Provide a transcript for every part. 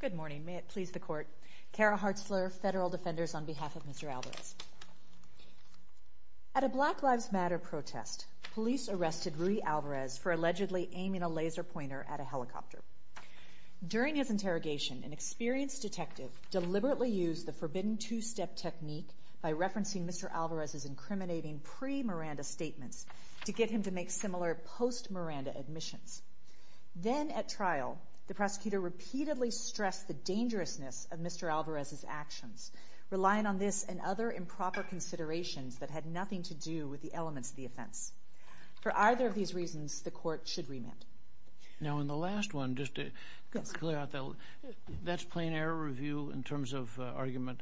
Good morning. May it please the court. Kara Hartzler, Federal Defenders, on behalf of Mr. Alvarez. At a Black Lives Matter protest, police arrested Rudy Alvarez for allegedly aiming a laser pointer at a helicopter. During his interrogation, an experienced detective deliberately used the forbidden two-step technique by referencing Mr. Alvarez's incriminating pre-Miranda statements to get him to make similar post-Miranda admissions. Then at trial, the prosecutor repeatedly stressed the dangerousness of Mr. Alvarez's actions, relying on this and other improper considerations that had nothing to do with the elements of the offense. For either of these reasons, the court should remand. Now, in the last one, just to clear out that, that's plain error review in terms of argument?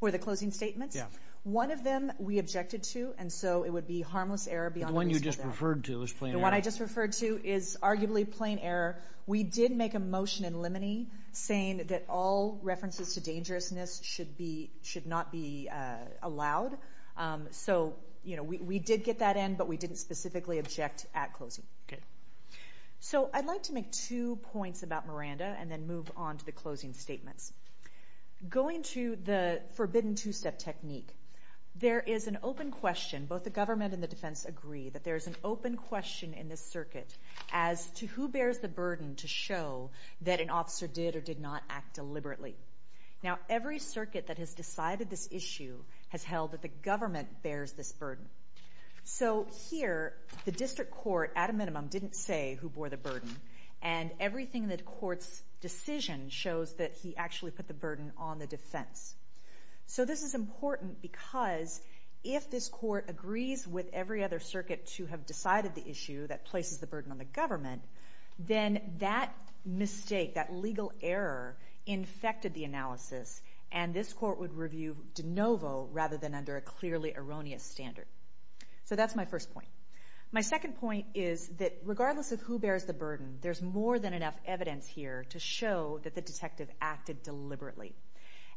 For the closing statements? Yeah. One of them we objected to, and so it would be harmless error beyond reason. The one you just referred to is plain error. The one I just referred to is arguably plain error. We did make a motion in limine saying that all references to dangerousness should be, should not be allowed. So, you know, we did get that in, but we didn't specifically object at closing. Okay. So I'd like to make two points about the closing statements. Going to the forbidden two-step technique, there is an open question, both the government and the defense agree, that there is an open question in this circuit as to who bears the burden to show that an officer did or did not act deliberately. Now, every circuit that has decided this issue has held that the government bears this burden. So here, the district court, at a minimum, didn't say who bore the burden, and everything in the court's decision shows that he actually put the burden on the defense. So this is important because if this court agrees with every other circuit to have decided the issue that places the burden on the government, then that mistake, that legal error, infected the analysis, and this court would review de novo rather than under a clearly erroneous standard. So that's my first point. My second point is that regardless of who bears the burden, there is no evidence here to show that the detective acted deliberately.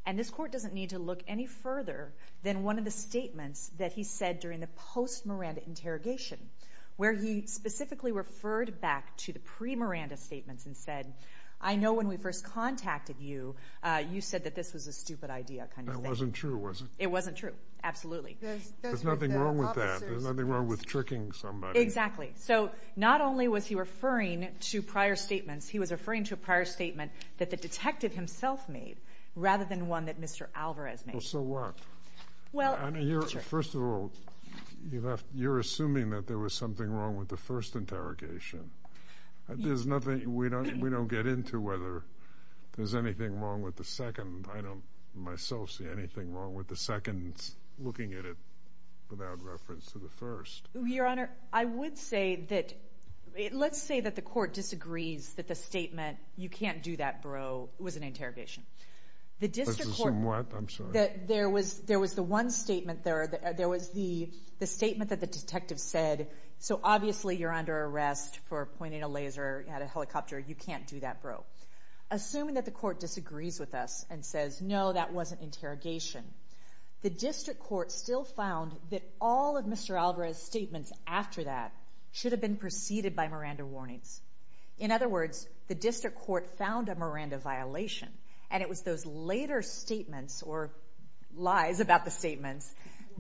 And this court doesn't need to look any further than one of the statements that he said during the post-Miranda interrogation, where he specifically referred back to the pre-Miranda statements and said, I know when we first contacted you, you said that this was a stupid idea kind of thing. That wasn't true, was it? It wasn't true. Absolutely. There's nothing wrong with that. There's nothing wrong with tricking somebody. Exactly. So not only was he referring to prior statements, he was referring to a prior statement that the detective himself made rather than one that Mr. Alvarez made. So what? Well, I mean, you're, first of all, you're assuming that there was something wrong with the first interrogation. There's nothing, we don't get into whether there's anything wrong with the second. I don't myself see anything wrong with the second looking at it without reference to the first. Your Honor, I would say that, let's say that the court disagrees that the statement, you can't do that, bro, was an interrogation. Let's assume what? I'm sorry. There was the one statement there, there was the statement that the detective said, so obviously you're under arrest for pointing a laser at a helicopter, you can't do that, bro. Assuming that the court disagrees with us and says, no, that wasn't interrogation. The district court still found that all of Mr. Alvarez's statements after that should have been preceded by Miranda warnings. In other words, the district court found a Miranda violation and it was those later statements or lies about the statements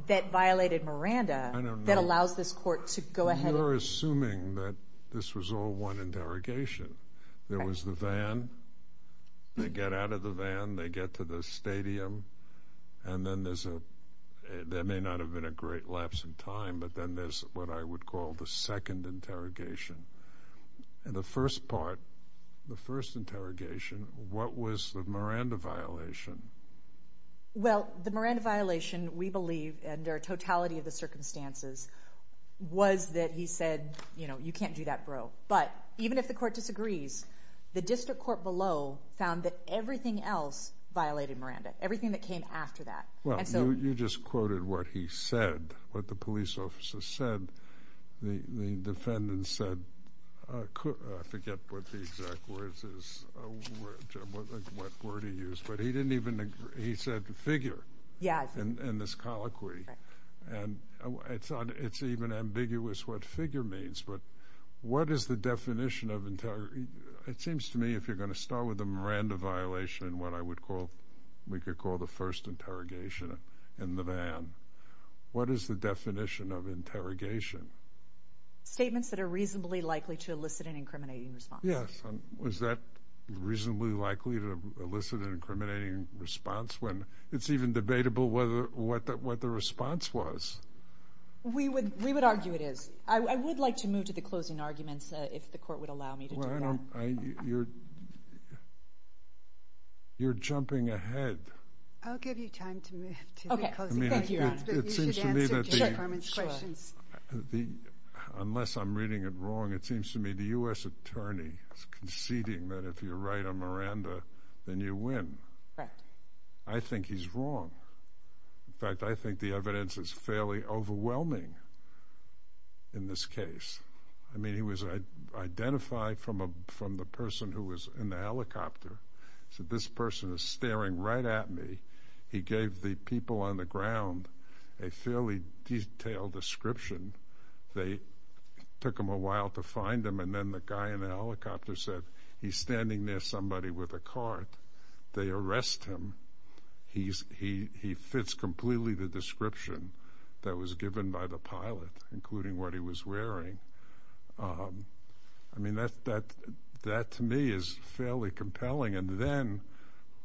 that violated Miranda that allows this court to go ahead and... You're assuming that this was all one interrogation. There was the van, they get out of the van, they get to the stadium, and then there's a, that may not have been a great lapse in time, but then there's what I would call the second interrogation. And the first part, the first interrogation, what was the Miranda violation? Well, the Miranda violation, we believe, under totality of the circumstances, was that he said, you know, you can't do that, bro. But even if the court disagrees, the district court below found that everything else violated Miranda, everything that came after that. Well, you just quoted what he said, what the police officer said. The defendant said, I forget what the exact words is, what word he used, but he didn't even, he said figure in this colloquy. And it's even ambiguous what figure means, but what is the definition of interrogation? It seems to me if you're going to start with a what I would call, we could call the first interrogation in the van. What is the definition of interrogation? Statements that are reasonably likely to elicit an incriminating response. Yes. Was that reasonably likely to elicit an incriminating response when it's even debatable whether, what the response was? We would argue it is. I would like to move to the closing arguments if the court would allow me to do that. Well, you're jumping ahead. I'll give you time to move to the closing arguments, but you should answer Jay Farman's questions. Unless I'm reading it wrong, it seems to me the U.S. Attorney is conceding that if you're right on Miranda, then you win. I think he's wrong. In fact, I think the evidence is fairly overwhelming in this case. I could identify from the person who was in the helicopter, said this person is staring right at me. He gave the people on the ground a fairly detailed description. They took him a while to find him, and then the guy in the helicopter said he's standing near somebody with a cart. They arrest him. He fits completely the description that was given by the pilot, including what he was wearing. I mean, that to me is fairly compelling. And then,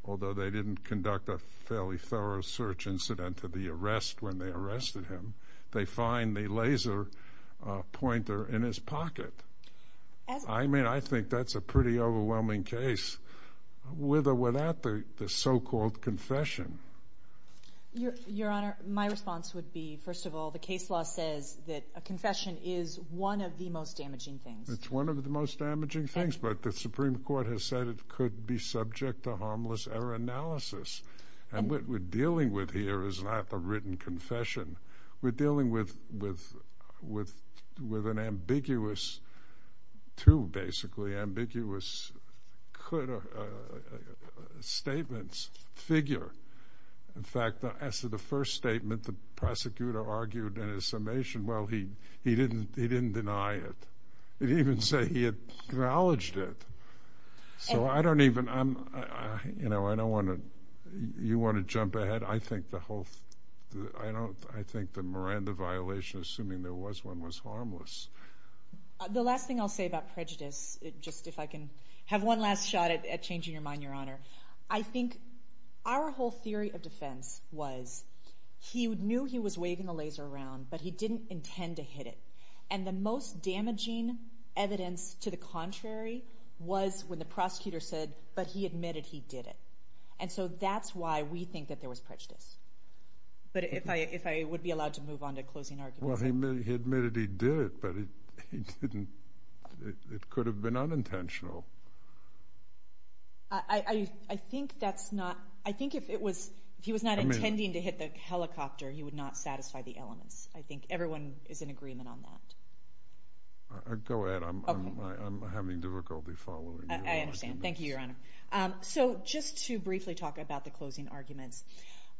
although they didn't conduct a fairly thorough search incident of the arrest when they arrested him, they find the laser pointer in his pocket. I mean, I think that's a pretty overwhelming case with or without the so-called confession. Your Honor, my response would be, first of all, the case law says that a confession is one of the most damaging things. It's one of the most damaging things, but the Supreme Court has said it could be subject to harmless error analysis. And what we're dealing with here is not a written confession. We're dealing with an ambiguous, too, basically, ambiguous statements figure. In fact, as to the first statement, the prosecutor argued in his summation, well, he didn't deny it. He didn't even say he had acknowledged it. So I don't even, you know, I don't want to, you want to jump ahead? I think the whole, I think the Miranda violation, assuming there was one, was harmless. The last thing I'll say about prejudice, just if I can have one last shot at changing your mind, Your Honor. I think our whole theory of defense was he knew he was waving the laser around, but he didn't intend to hit it. And the most damaging evidence to the contrary was when the prosecutor said, but he admitted he did it. And so that's why we think that there was prejudice. But if I would be allowed to move on to closing arguments. Well, he admitted he did it, but he didn't, it could have been unintentional. I think that's not, I think if it was, if he was not intending to hit the helicopter, he would not satisfy the elements. I think everyone is in agreement on that. Go ahead. I'm having difficulty following you. I understand. Thank you, Your Honor. So just to briefly talk about the closing arguments.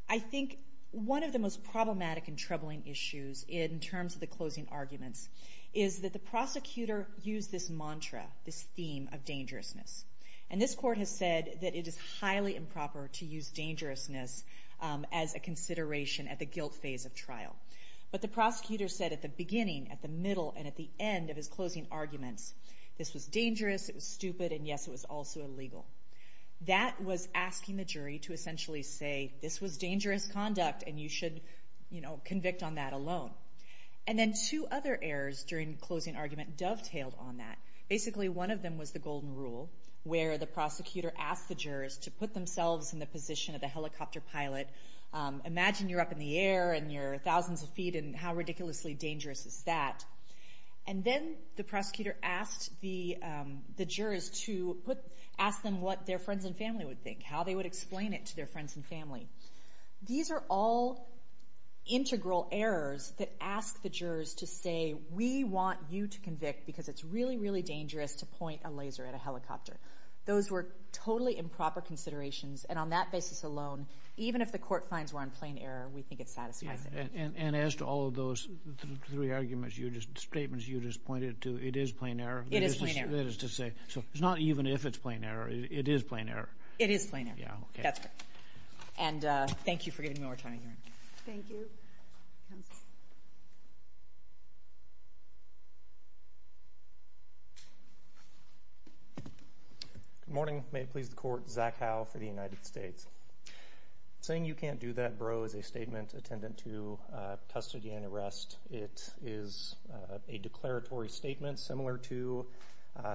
I think one of the most problematic and troubling issues in terms of the closing arguments is that the prosecutor used this mantra, this theme of dangerousness. And this court has said that it is highly improper to use dangerousness as a consideration at the guilt phase of trial. But the prosecutor said at the beginning, at the middle, and at the end of his closing arguments, this was dangerous, it was stupid, and yes, it was also illegal. That was asking the jury to essentially say, this was dangerous conduct, and you should convict on that alone. And then two other errors during closing argument dovetailed on that. Basically, one of them was the golden rule, where the prosecutor asked the jurors to put themselves in the position of the helicopter pilot. Imagine you're up in the air, and you're thousands of feet, and how ridiculously dangerous is that? And then the prosecutor asked the jurors to ask them what their friends and family would think, how they would explain it to their friends and family. These are all integral errors that ask the jurors to say, we want you to convict because it's really, really dangerous to point a laser at a helicopter. Those were totally improper considerations, and on that basis alone, even if the court finds we're on plain error, we think it satisfies it. And as to all of those three statements you just pointed to, it is plain error? It is plain error. That is to say. So it's not even if it's plain error. It is plain error. It is plain error. Yeah, okay. That's right. And thank you for giving me more time. Thank you. Good morning. May it please the Court. Zach Howe for the United States. Saying you can't do that, bro, is a statement attendant to custody and arrest. It is a declaratory statement similar to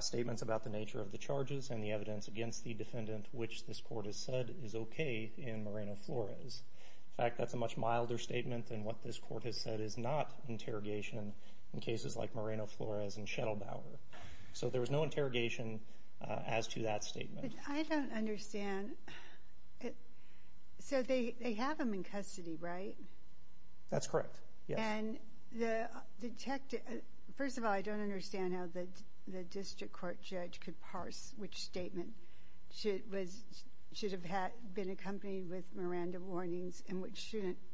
statements about the nature of the charges and the evidence against the defendant, which this Court has said is okay in Moreno-Flores. In fact, that's a much milder statement than what this Court has said is not interrogation in cases like Moreno-Flores and Schettelbauer. So there was no interrogation as to that statement. I don't understand. So they have him in custody, right? That's correct, yes. And the detective. First of all, I don't understand how the district court judge could parse which statement should have been accompanied with Miranda warnings and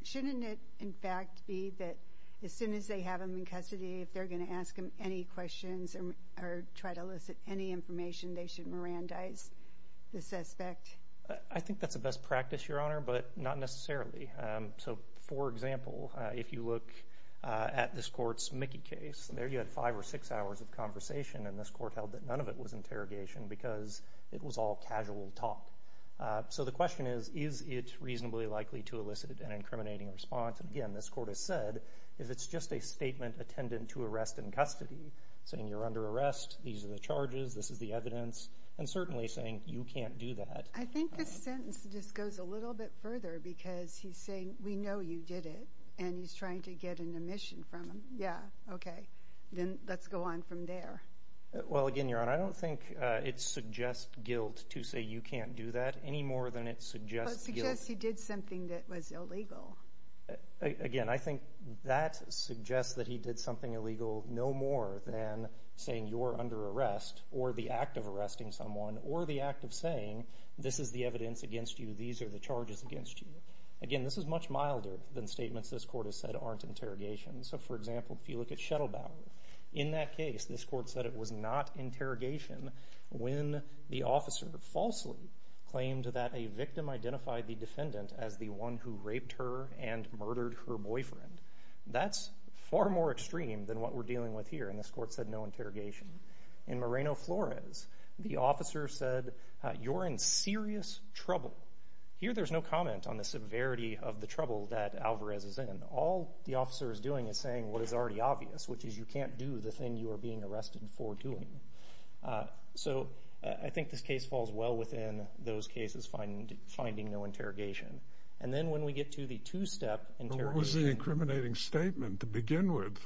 shouldn't it, in fact, be that as soon as they have him in custody, if they're going to ask him any questions or try to elicit any information, they should Mirandize the suspect. I think that's the best practice, Your Honor, but not necessarily. So, for example, if you look at this court's Mickey case, there you had five or six hours of conversation, and this court held that none of it was interrogation because it was all casual talk. So the question is, is it reasonably likely to elicit an incriminating response? And, again, this court has said if it's just a statement attendant to arrest in custody, saying you're under arrest, these are the charges, this is the evidence, and certainly saying you can't do that. I think this sentence just goes a little bit further because he's saying we know you did it, and he's trying to get an omission from him. Yeah, okay. Then let's go on from there. Well, again, Your Honor, I don't think it suggests guilt to say you can't do that any more than it suggests guilt. It suggests he did something that was illegal. Again, I think that suggests that he did something illegal no more than saying you're under arrest or the act of arresting someone or the act of saying this is the evidence against you, these are the charges against you. Again, this is much milder than statements this court has said aren't interrogation. So, for example, if you look at Shettlebauer, in that case this court said it was not interrogation when the officer falsely claimed that a victim identified the defendant as the one who raped her and murdered her boyfriend. That's far more extreme than what we're dealing with here, and this court said no interrogation. In Moreno-Flores, the officer said you're in serious trouble. Here there's no comment on the severity of the trouble that Alvarez is in. All the officer is doing is saying what is already obvious, which is you can't do the thing you are being arrested for doing. So I think this case falls well within those cases finding no interrogation. And then when we get to the two-step interrogation— But what was the incriminating statement to begin with?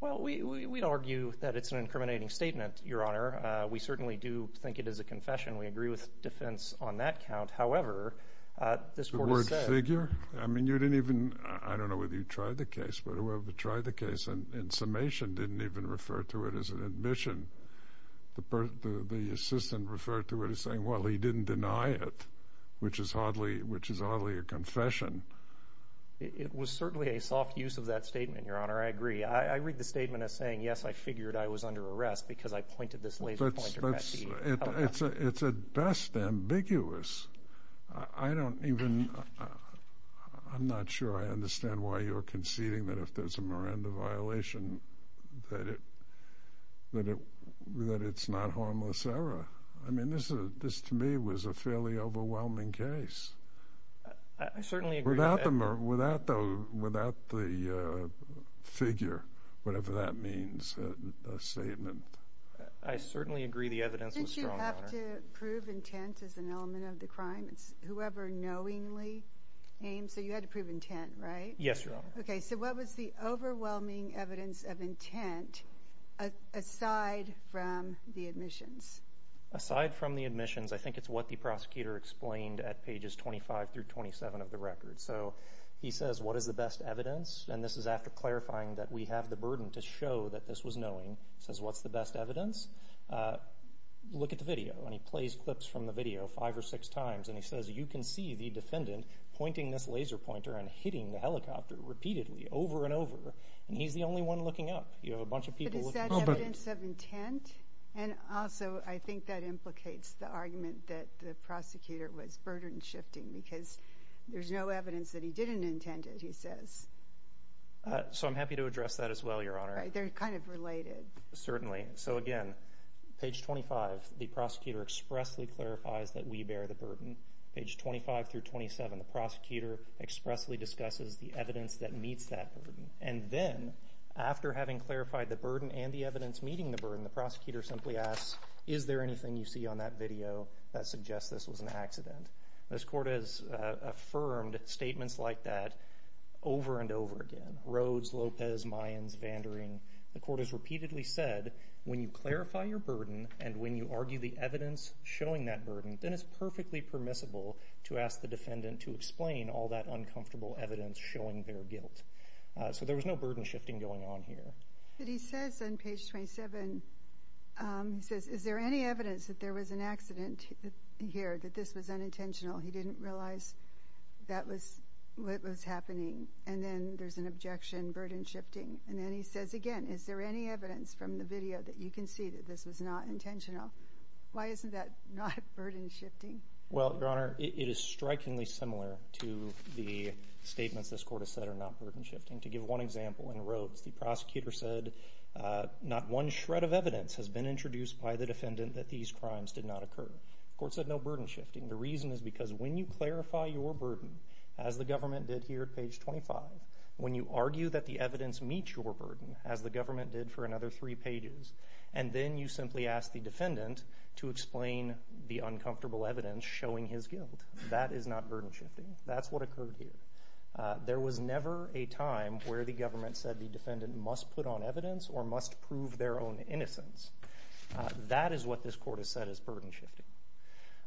Well, we'd argue that it's an incriminating statement, Your Honor. We certainly do think it is a confession. We agree with defense on that count. However, this court has said— The word figure? I mean, you didn't even—I don't know whether you tried the case, but whoever tried the case in summation didn't even refer to it as an admission. The assistant referred to it as saying, well, he didn't deny it, which is hardly a confession. It was certainly a soft use of that statement, Your Honor. I agree. I read the statement as saying, yes, I figured I was under arrest because I pointed this laser pointer at the— It's at best ambiguous. I don't even—I'm not sure I understand why you're conceding that if there's a Miranda violation that it's not harmless error. I mean, this to me was a fairly overwhelming case. I certainly agree. Without the figure, whatever that means, statement. I certainly agree the evidence was strong, Your Honor. Didn't you have to prove intent as an element of the crime? It's whoever knowingly aims. So you had to prove intent, right? Yes, Your Honor. Okay, so what was the overwhelming evidence of intent aside from the admissions? Aside from the admissions, I think it's what the prosecutor explained at pages 25 through 27 of the record. So he says, what is the best evidence? And this is after clarifying that we have the burden to show that this was knowing. He says, what's the best evidence? Look at the video, and he plays clips from the video five or six times, and he says, you can see the defendant pointing this laser pointer and hitting the helicopter repeatedly over and over, and he's the only one looking up. You have a bunch of people looking— But is that evidence of intent? And also, I think that implicates the argument that the prosecutor was burden shifting because there's no evidence that he didn't intend it, he says. So I'm happy to address that as well, Your Honor. They're kind of related. Certainly. So again, page 25, the prosecutor expressly clarifies that we bear the burden. Page 25 through 27, the prosecutor expressly discusses the evidence that meets that burden. And then, after having clarified the burden and the evidence meeting the burden, the prosecutor simply asks, is there anything you see on that video that suggests this was an accident? This court has affirmed statements like that over and over again. Rhodes, Lopez, Mayans, Vandering. The court has repeatedly said, when you clarify your burden and when you argue the evidence showing that burden, then it's perfectly permissible to ask the defendant to explain all that uncomfortable evidence showing their guilt. So there was no burden shifting going on here. But he says on page 27, he says, is there any evidence that there was an accident here, that this was unintentional, he didn't realize that was what was happening? And then there's an objection, burden shifting. And then he says again, is there any evidence from the video that you can see that this was not intentional? Why isn't that not burden shifting? Well, Your Honor, it is strikingly similar to the statements this court has said are not burden shifting. To give one example, in Rhodes, the prosecutor said, not one shred of evidence has been introduced by the defendant that these crimes did not occur. The court said no burden shifting. The reason is because when you clarify your burden, as the government did here at page 25, when you argue that the evidence meets your burden, as the government did for another three pages, and then you simply ask the defendant to explain the uncomfortable evidence showing his guilt, that is not burden shifting. That's what occurred here. There was never a time where the government said the defendant must put on evidence or must prove their own innocence. That is what this court has said is burden shifting.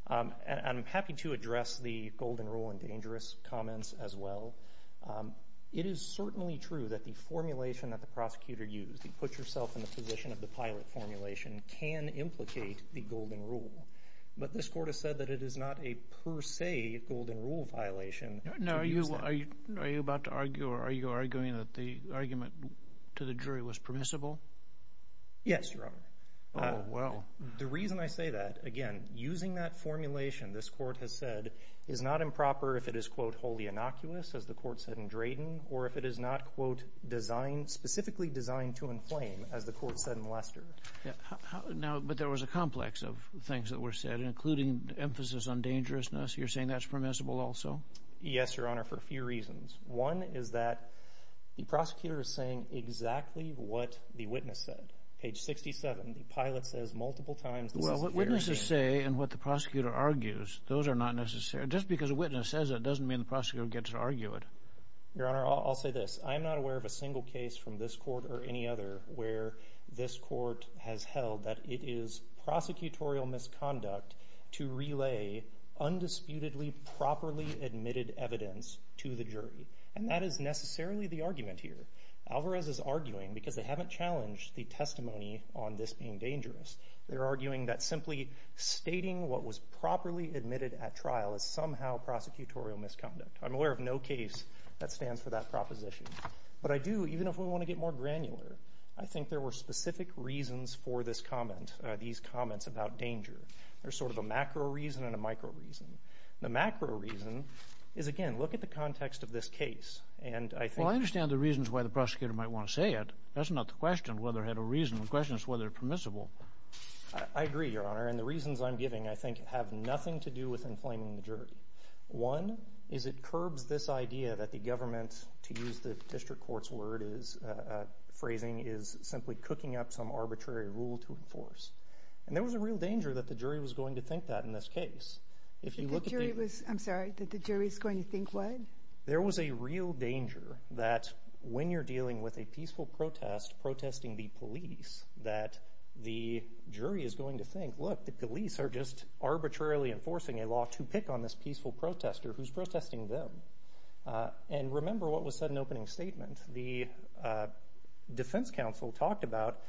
I'm happy to address the golden rule and dangerous comments as well. It is certainly true that the formulation that the prosecutor used, the put yourself in the position of the pilot formulation, can implicate the golden rule. But this court has said that it is not a per se golden rule violation. Are you arguing that the argument to the jury was permissible? Yes, Your Honor. Oh, well. The reason I say that, again, using that formulation, this court has said, is not improper if it is, quote, wholly innocuous, as the court said in Drayton, or if it is not, quote, designed, specifically designed to inflame, as the court said in Lester. But there was a complex of things that were said, including emphasis on dangerousness. You're saying that's permissible also? Yes, Your Honor, for a few reasons. One is that the prosecutor is saying exactly what the witness said. Page 67, the pilot says multiple times. Well, what witnesses say and what the prosecutor argues, those are not necessary. Just because a witness says it doesn't mean the prosecutor gets to argue it. Your Honor, I'll say this. I'm not aware of a single case from this court or any other where this court has held that it is prosecutorial misconduct to relay undisputedly properly admitted evidence to the jury. And that is necessarily the argument here. Alvarez is arguing, because they haven't challenged the testimony on this being dangerous, they're arguing that simply stating what was properly admitted at trial is somehow prosecutorial misconduct. I'm aware of no case that stands for that proposition. But I do, even if we want to get more granular, I think there were specific reasons for this comment, these comments about danger. There's sort of a macro reason and a micro reason. The macro reason is, again, look at the context of this case. Well, I understand the reasons why the prosecutor might want to say it. That's not the question, whether it had a reason. The question is whether it's permissible. I agree, Your Honor, and the reasons I'm giving, I think, have nothing to do with inflaming the jury. One is it curbs this idea that the government, to use the district court's word, phrasing is simply cooking up some arbitrary rule to enforce. And there was a real danger that the jury was going to think that in this case. I'm sorry, that the jury was going to think what? There was a real danger that when you're dealing with a peaceful protest, protesting the police, that the jury is going to think, look, the police are just arbitrarily enforcing a law to pick on this peaceful protester who's protesting them. And remember what was said in the opening statement. The defense counsel talked about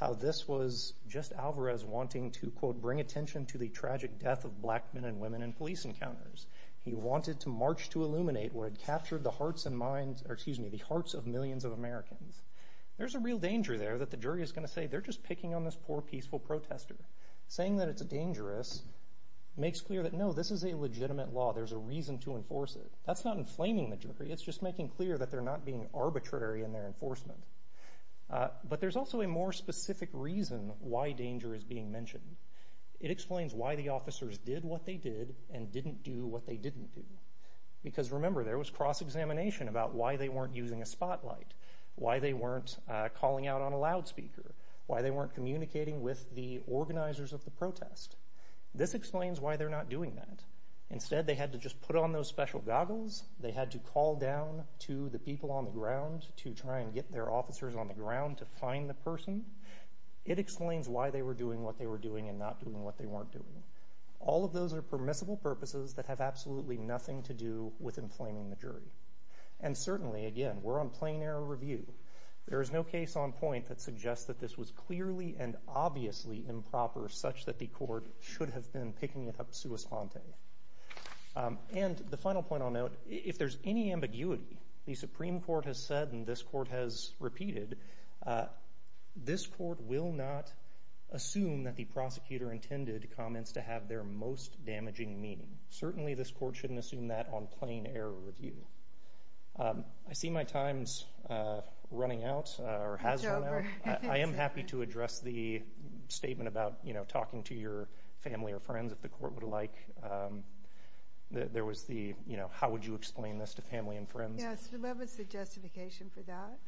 how this was just Alvarez wanting to, quote, bring attention to the tragic death of black men and women in police encounters. He wanted to march to illuminate what had captured the hearts and minds, or excuse me, the hearts of millions of Americans. There's a real danger there that the jury is going to say they're just picking on this poor peaceful protester. Saying that it's dangerous makes clear that, no, this is a legitimate law. There's a reason to enforce it. That's not inflaming the jury. It's just making clear that they're not being arbitrary in their enforcement. But there's also a more specific reason why danger is being mentioned. It explains why the officers did what they did and didn't do what they didn't do. Because, remember, there was cross-examination about why they weren't using a spotlight, why they weren't calling out on a loudspeaker, why they weren't communicating with the organizers of the protest. This explains why they're not doing that. Instead, they had to just put on those special goggles. They had to call down to the people on the ground to try and get their officers on the ground to find the person. It explains why they were doing what they were doing and not doing what they weren't doing. All of those are permissible purposes that have absolutely nothing to do with inflaming the jury. And certainly, again, we're on plain error review. There is no case on point that suggests that this was clearly and obviously improper such that the court should have been picking it up sua sponte. And the final point I'll note, if there's any ambiguity, the Supreme Court has said and this Court has repeated, this Court will not assume that the prosecutor intended comments to have their most damaging meaning. Certainly, this Court shouldn't assume that on plain error review. I see my time's running out or has run out. I am happy to address the statement about talking to your family or friends if the Court would like. There was the, you know, how would you explain this to family and friends? Yes, what was the justification for that?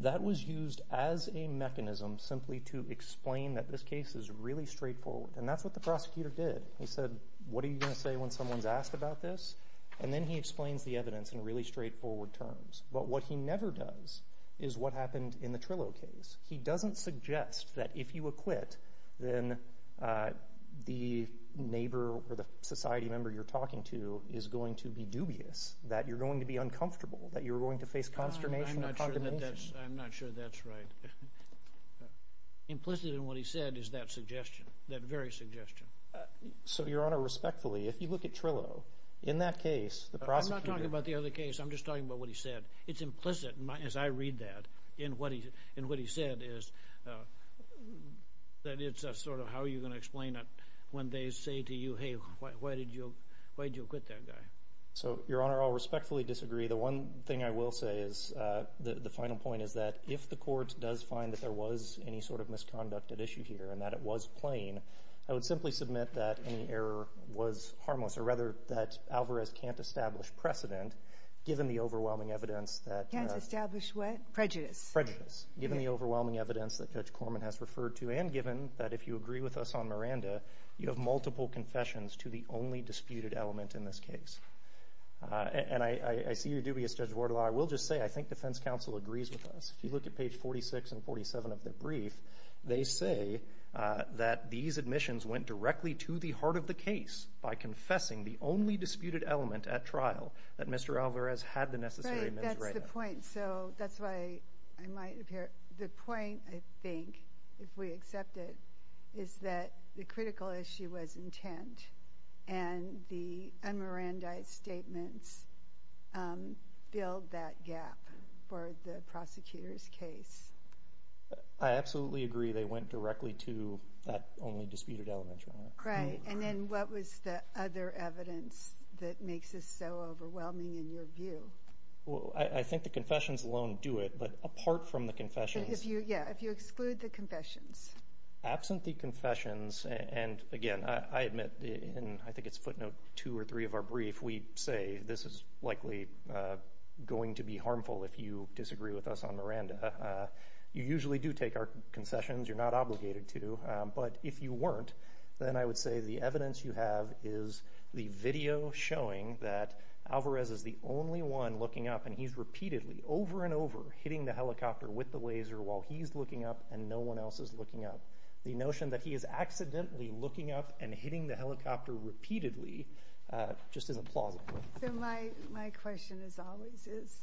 That was used as a mechanism simply to explain that this case is really straightforward. And that's what the prosecutor did. He said, what are you going to say when someone's asked about this? And then he explains the evidence in really straightforward terms. But what he never does is what happened in the Trillo case. He doesn't suggest that if you acquit, then the neighbor or the society member you're talking to is going to be dubious, that you're going to be uncomfortable, that you're going to face consternation or condemnation. I'm not sure that's right. Implicit in what he said is that suggestion, that very suggestion. So, Your Honor, respectfully, if you look at Trillo, in that case, the prosecutor I'm not talking about the other case. I'm just talking about what he said. It's implicit, as I read that, in what he said is that it's a sort of how are you going to explain it when they say to you, hey, why did you acquit that guy? So, Your Honor, I'll respectfully disagree. The one thing I will say is the final point is that if the court does find that there was any sort of misconduct at issue here and that it was plain, I would simply submit that any error was harmless or rather that Alvarez can't establish precedent given the overwhelming evidence that Can't establish what? Prejudice. Prejudice. Given the overwhelming evidence that Judge Corman has referred to and given that if you agree with us on Miranda, you have multiple confessions to the only disputed element in this case. And I see your dubious, Judge Wardlaw. I will just say I think defense counsel agrees with us. If you look at page 46 and 47 of the brief, they say that these admissions went directly to the heart of the case by confessing the only disputed element at trial that Mr. Alvarez had the necessary evidence. Right, that's the point. So, that's why I might appear. The point, I think, if we accept it, is that the critical issue was intent and the un-Mirandized statements build that gap for the prosecutor's case. I absolutely agree they went directly to that only disputed element, Your Honor. Right, and then what was the other evidence that makes this so overwhelming in your view? Well, I think the confessions alone do it, but apart from the confessions. Yeah, if you exclude the confessions. Absent the confessions, and again, I admit, and I think it's footnote 2 or 3 of our brief, we say this is likely going to be harmful if you disagree with us on Miranda. You usually do take our concessions. You're not obligated to. But if you weren't, then I would say the evidence you have is the video showing that Alvarez is the only one looking up, and he's repeatedly, over and over, hitting the helicopter with the laser while he's looking up and no one else is looking up. The notion that he is accidentally looking up and hitting the helicopter repeatedly just isn't plausible. My question, as always, is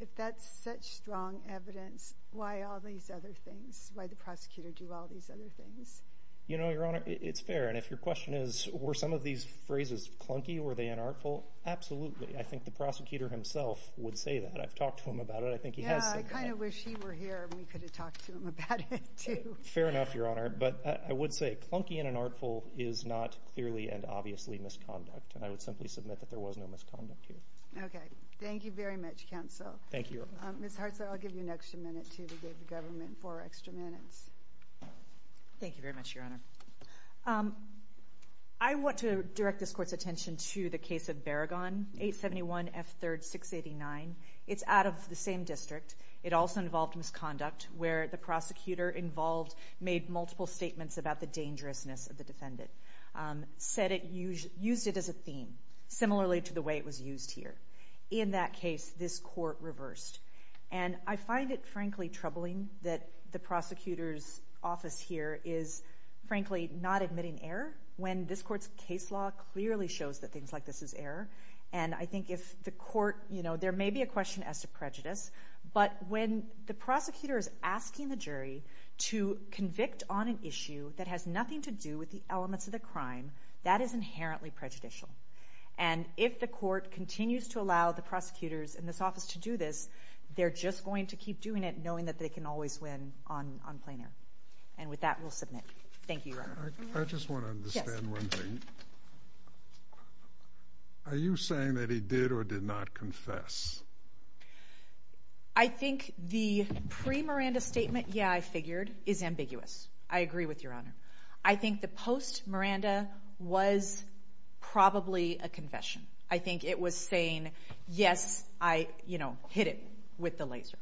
if that's such strong evidence, why all these other things? Why the prosecutor do all these other things? You know, Your Honor, it's fair, and if your question is, were some of these phrases clunky? Were they unartful? Absolutely. I think the prosecutor himself would say that. I've talked to him about it. I think he has said that. Yeah, I kind of wish he were here and we could have talked to him about it too. Fair enough, Your Honor, but I would say clunky and unartful is not clearly and obviously misconduct, and I would simply submit that there was no misconduct here. Okay. Thank you very much, counsel. Thank you, Your Honor. Ms. Hartzler, I'll give you an extra minute too. We gave the government four extra minutes. Thank you very much, Your Honor. I want to direct this Court's attention to the case of Baragon, 871F3-689. It's out of the same district. It also involved misconduct where the prosecutor involved made multiple statements about the dangerousness of the defendant, used it as a theme, similarly to the way it was used here. In that case, this Court reversed, and I find it, frankly, troubling that the prosecutor's office here is, frankly, not admitting error when this Court's case law clearly shows that things like this is error. And I think if the Court, you know, there may be a question as to prejudice, but when the prosecutor is asking the jury to convict on an issue that has nothing to do with the elements of the crime, that is inherently prejudicial. And if the Court continues to allow the prosecutors in this office to do this, they're just going to keep doing it knowing that they can always win on plainer. And with that, we'll submit. Thank you, Your Honor. I just want to understand one thing. Are you saying that he did or did not confess? I think the pre-Miranda statement, yeah, I figured, is ambiguous. I agree with Your Honor. I think the post-Miranda was probably a confession. I think it was saying, yes, I, you know, hit him with the laser.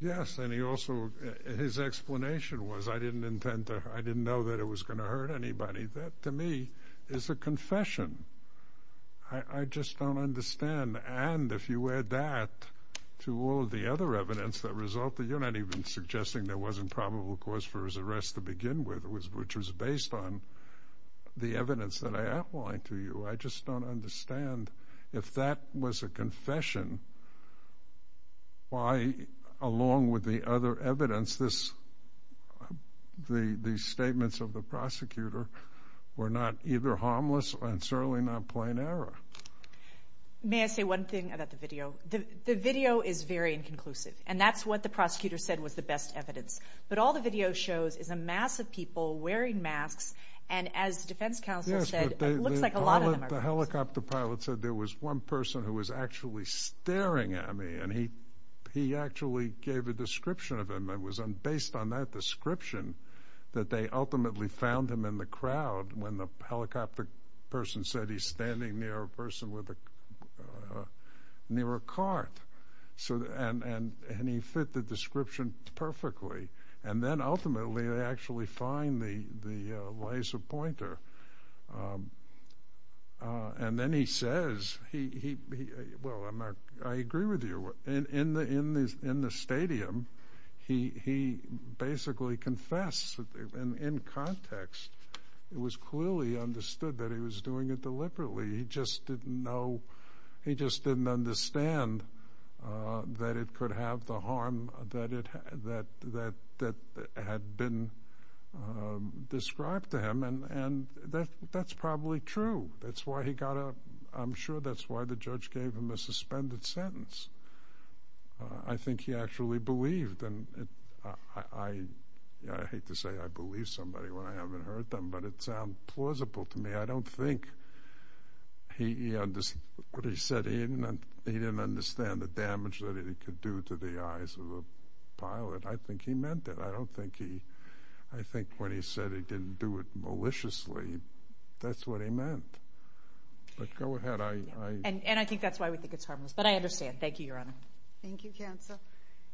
Yes, and he also, his explanation was, I didn't intend to, I didn't know that it was going to hurt anybody. That, to me, is a confession. I just don't understand. And if you add that to all of the other evidence that resulted, you're not even suggesting there wasn't probable cause for his arrest to begin with, which was based on the evidence that I outlined to you. I just don't understand. If that was a confession, why, along with the other evidence, these statements of the prosecutor were not either harmless and certainly not plain error? May I say one thing about the video? The video is very inconclusive, and that's what the prosecutor said was the best evidence. But all the video shows is a mass of people wearing masks, and as the defense counsel said, it looks like a lot of them are. Yes, but the helicopter pilot said there was one person who was actually staring at me, and he actually gave a description of him. It was based on that description that they ultimately found him in the crowd when the helicopter person said he's standing near a person with a, near a cart. And he fit the description perfectly. And then ultimately they actually find the laser pointer. And then he says he, well, I agree with you. In the stadium, he basically confessed in context. It was clearly understood that he was doing it deliberately. He just didn't know, he just didn't understand that it could have the harm that had been described to him, and that's probably true. That's why he got a, I'm sure that's why the judge gave him a suspended sentence. I think he actually believed, and I hate to say I believe somebody when I haven't heard them, but it sounds plausible to me. I don't think he understood what he said. He didn't understand the damage that it could do to the eyes of a pilot. I think he meant it. I don't think he, I think when he said he didn't do it maliciously, that's what he meant. But go ahead, I... And I think that's why we think it's harmless, but I understand. Thank you, Your Honor. Thank you, counsel.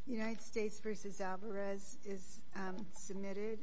United States v. Alvarez is submitted.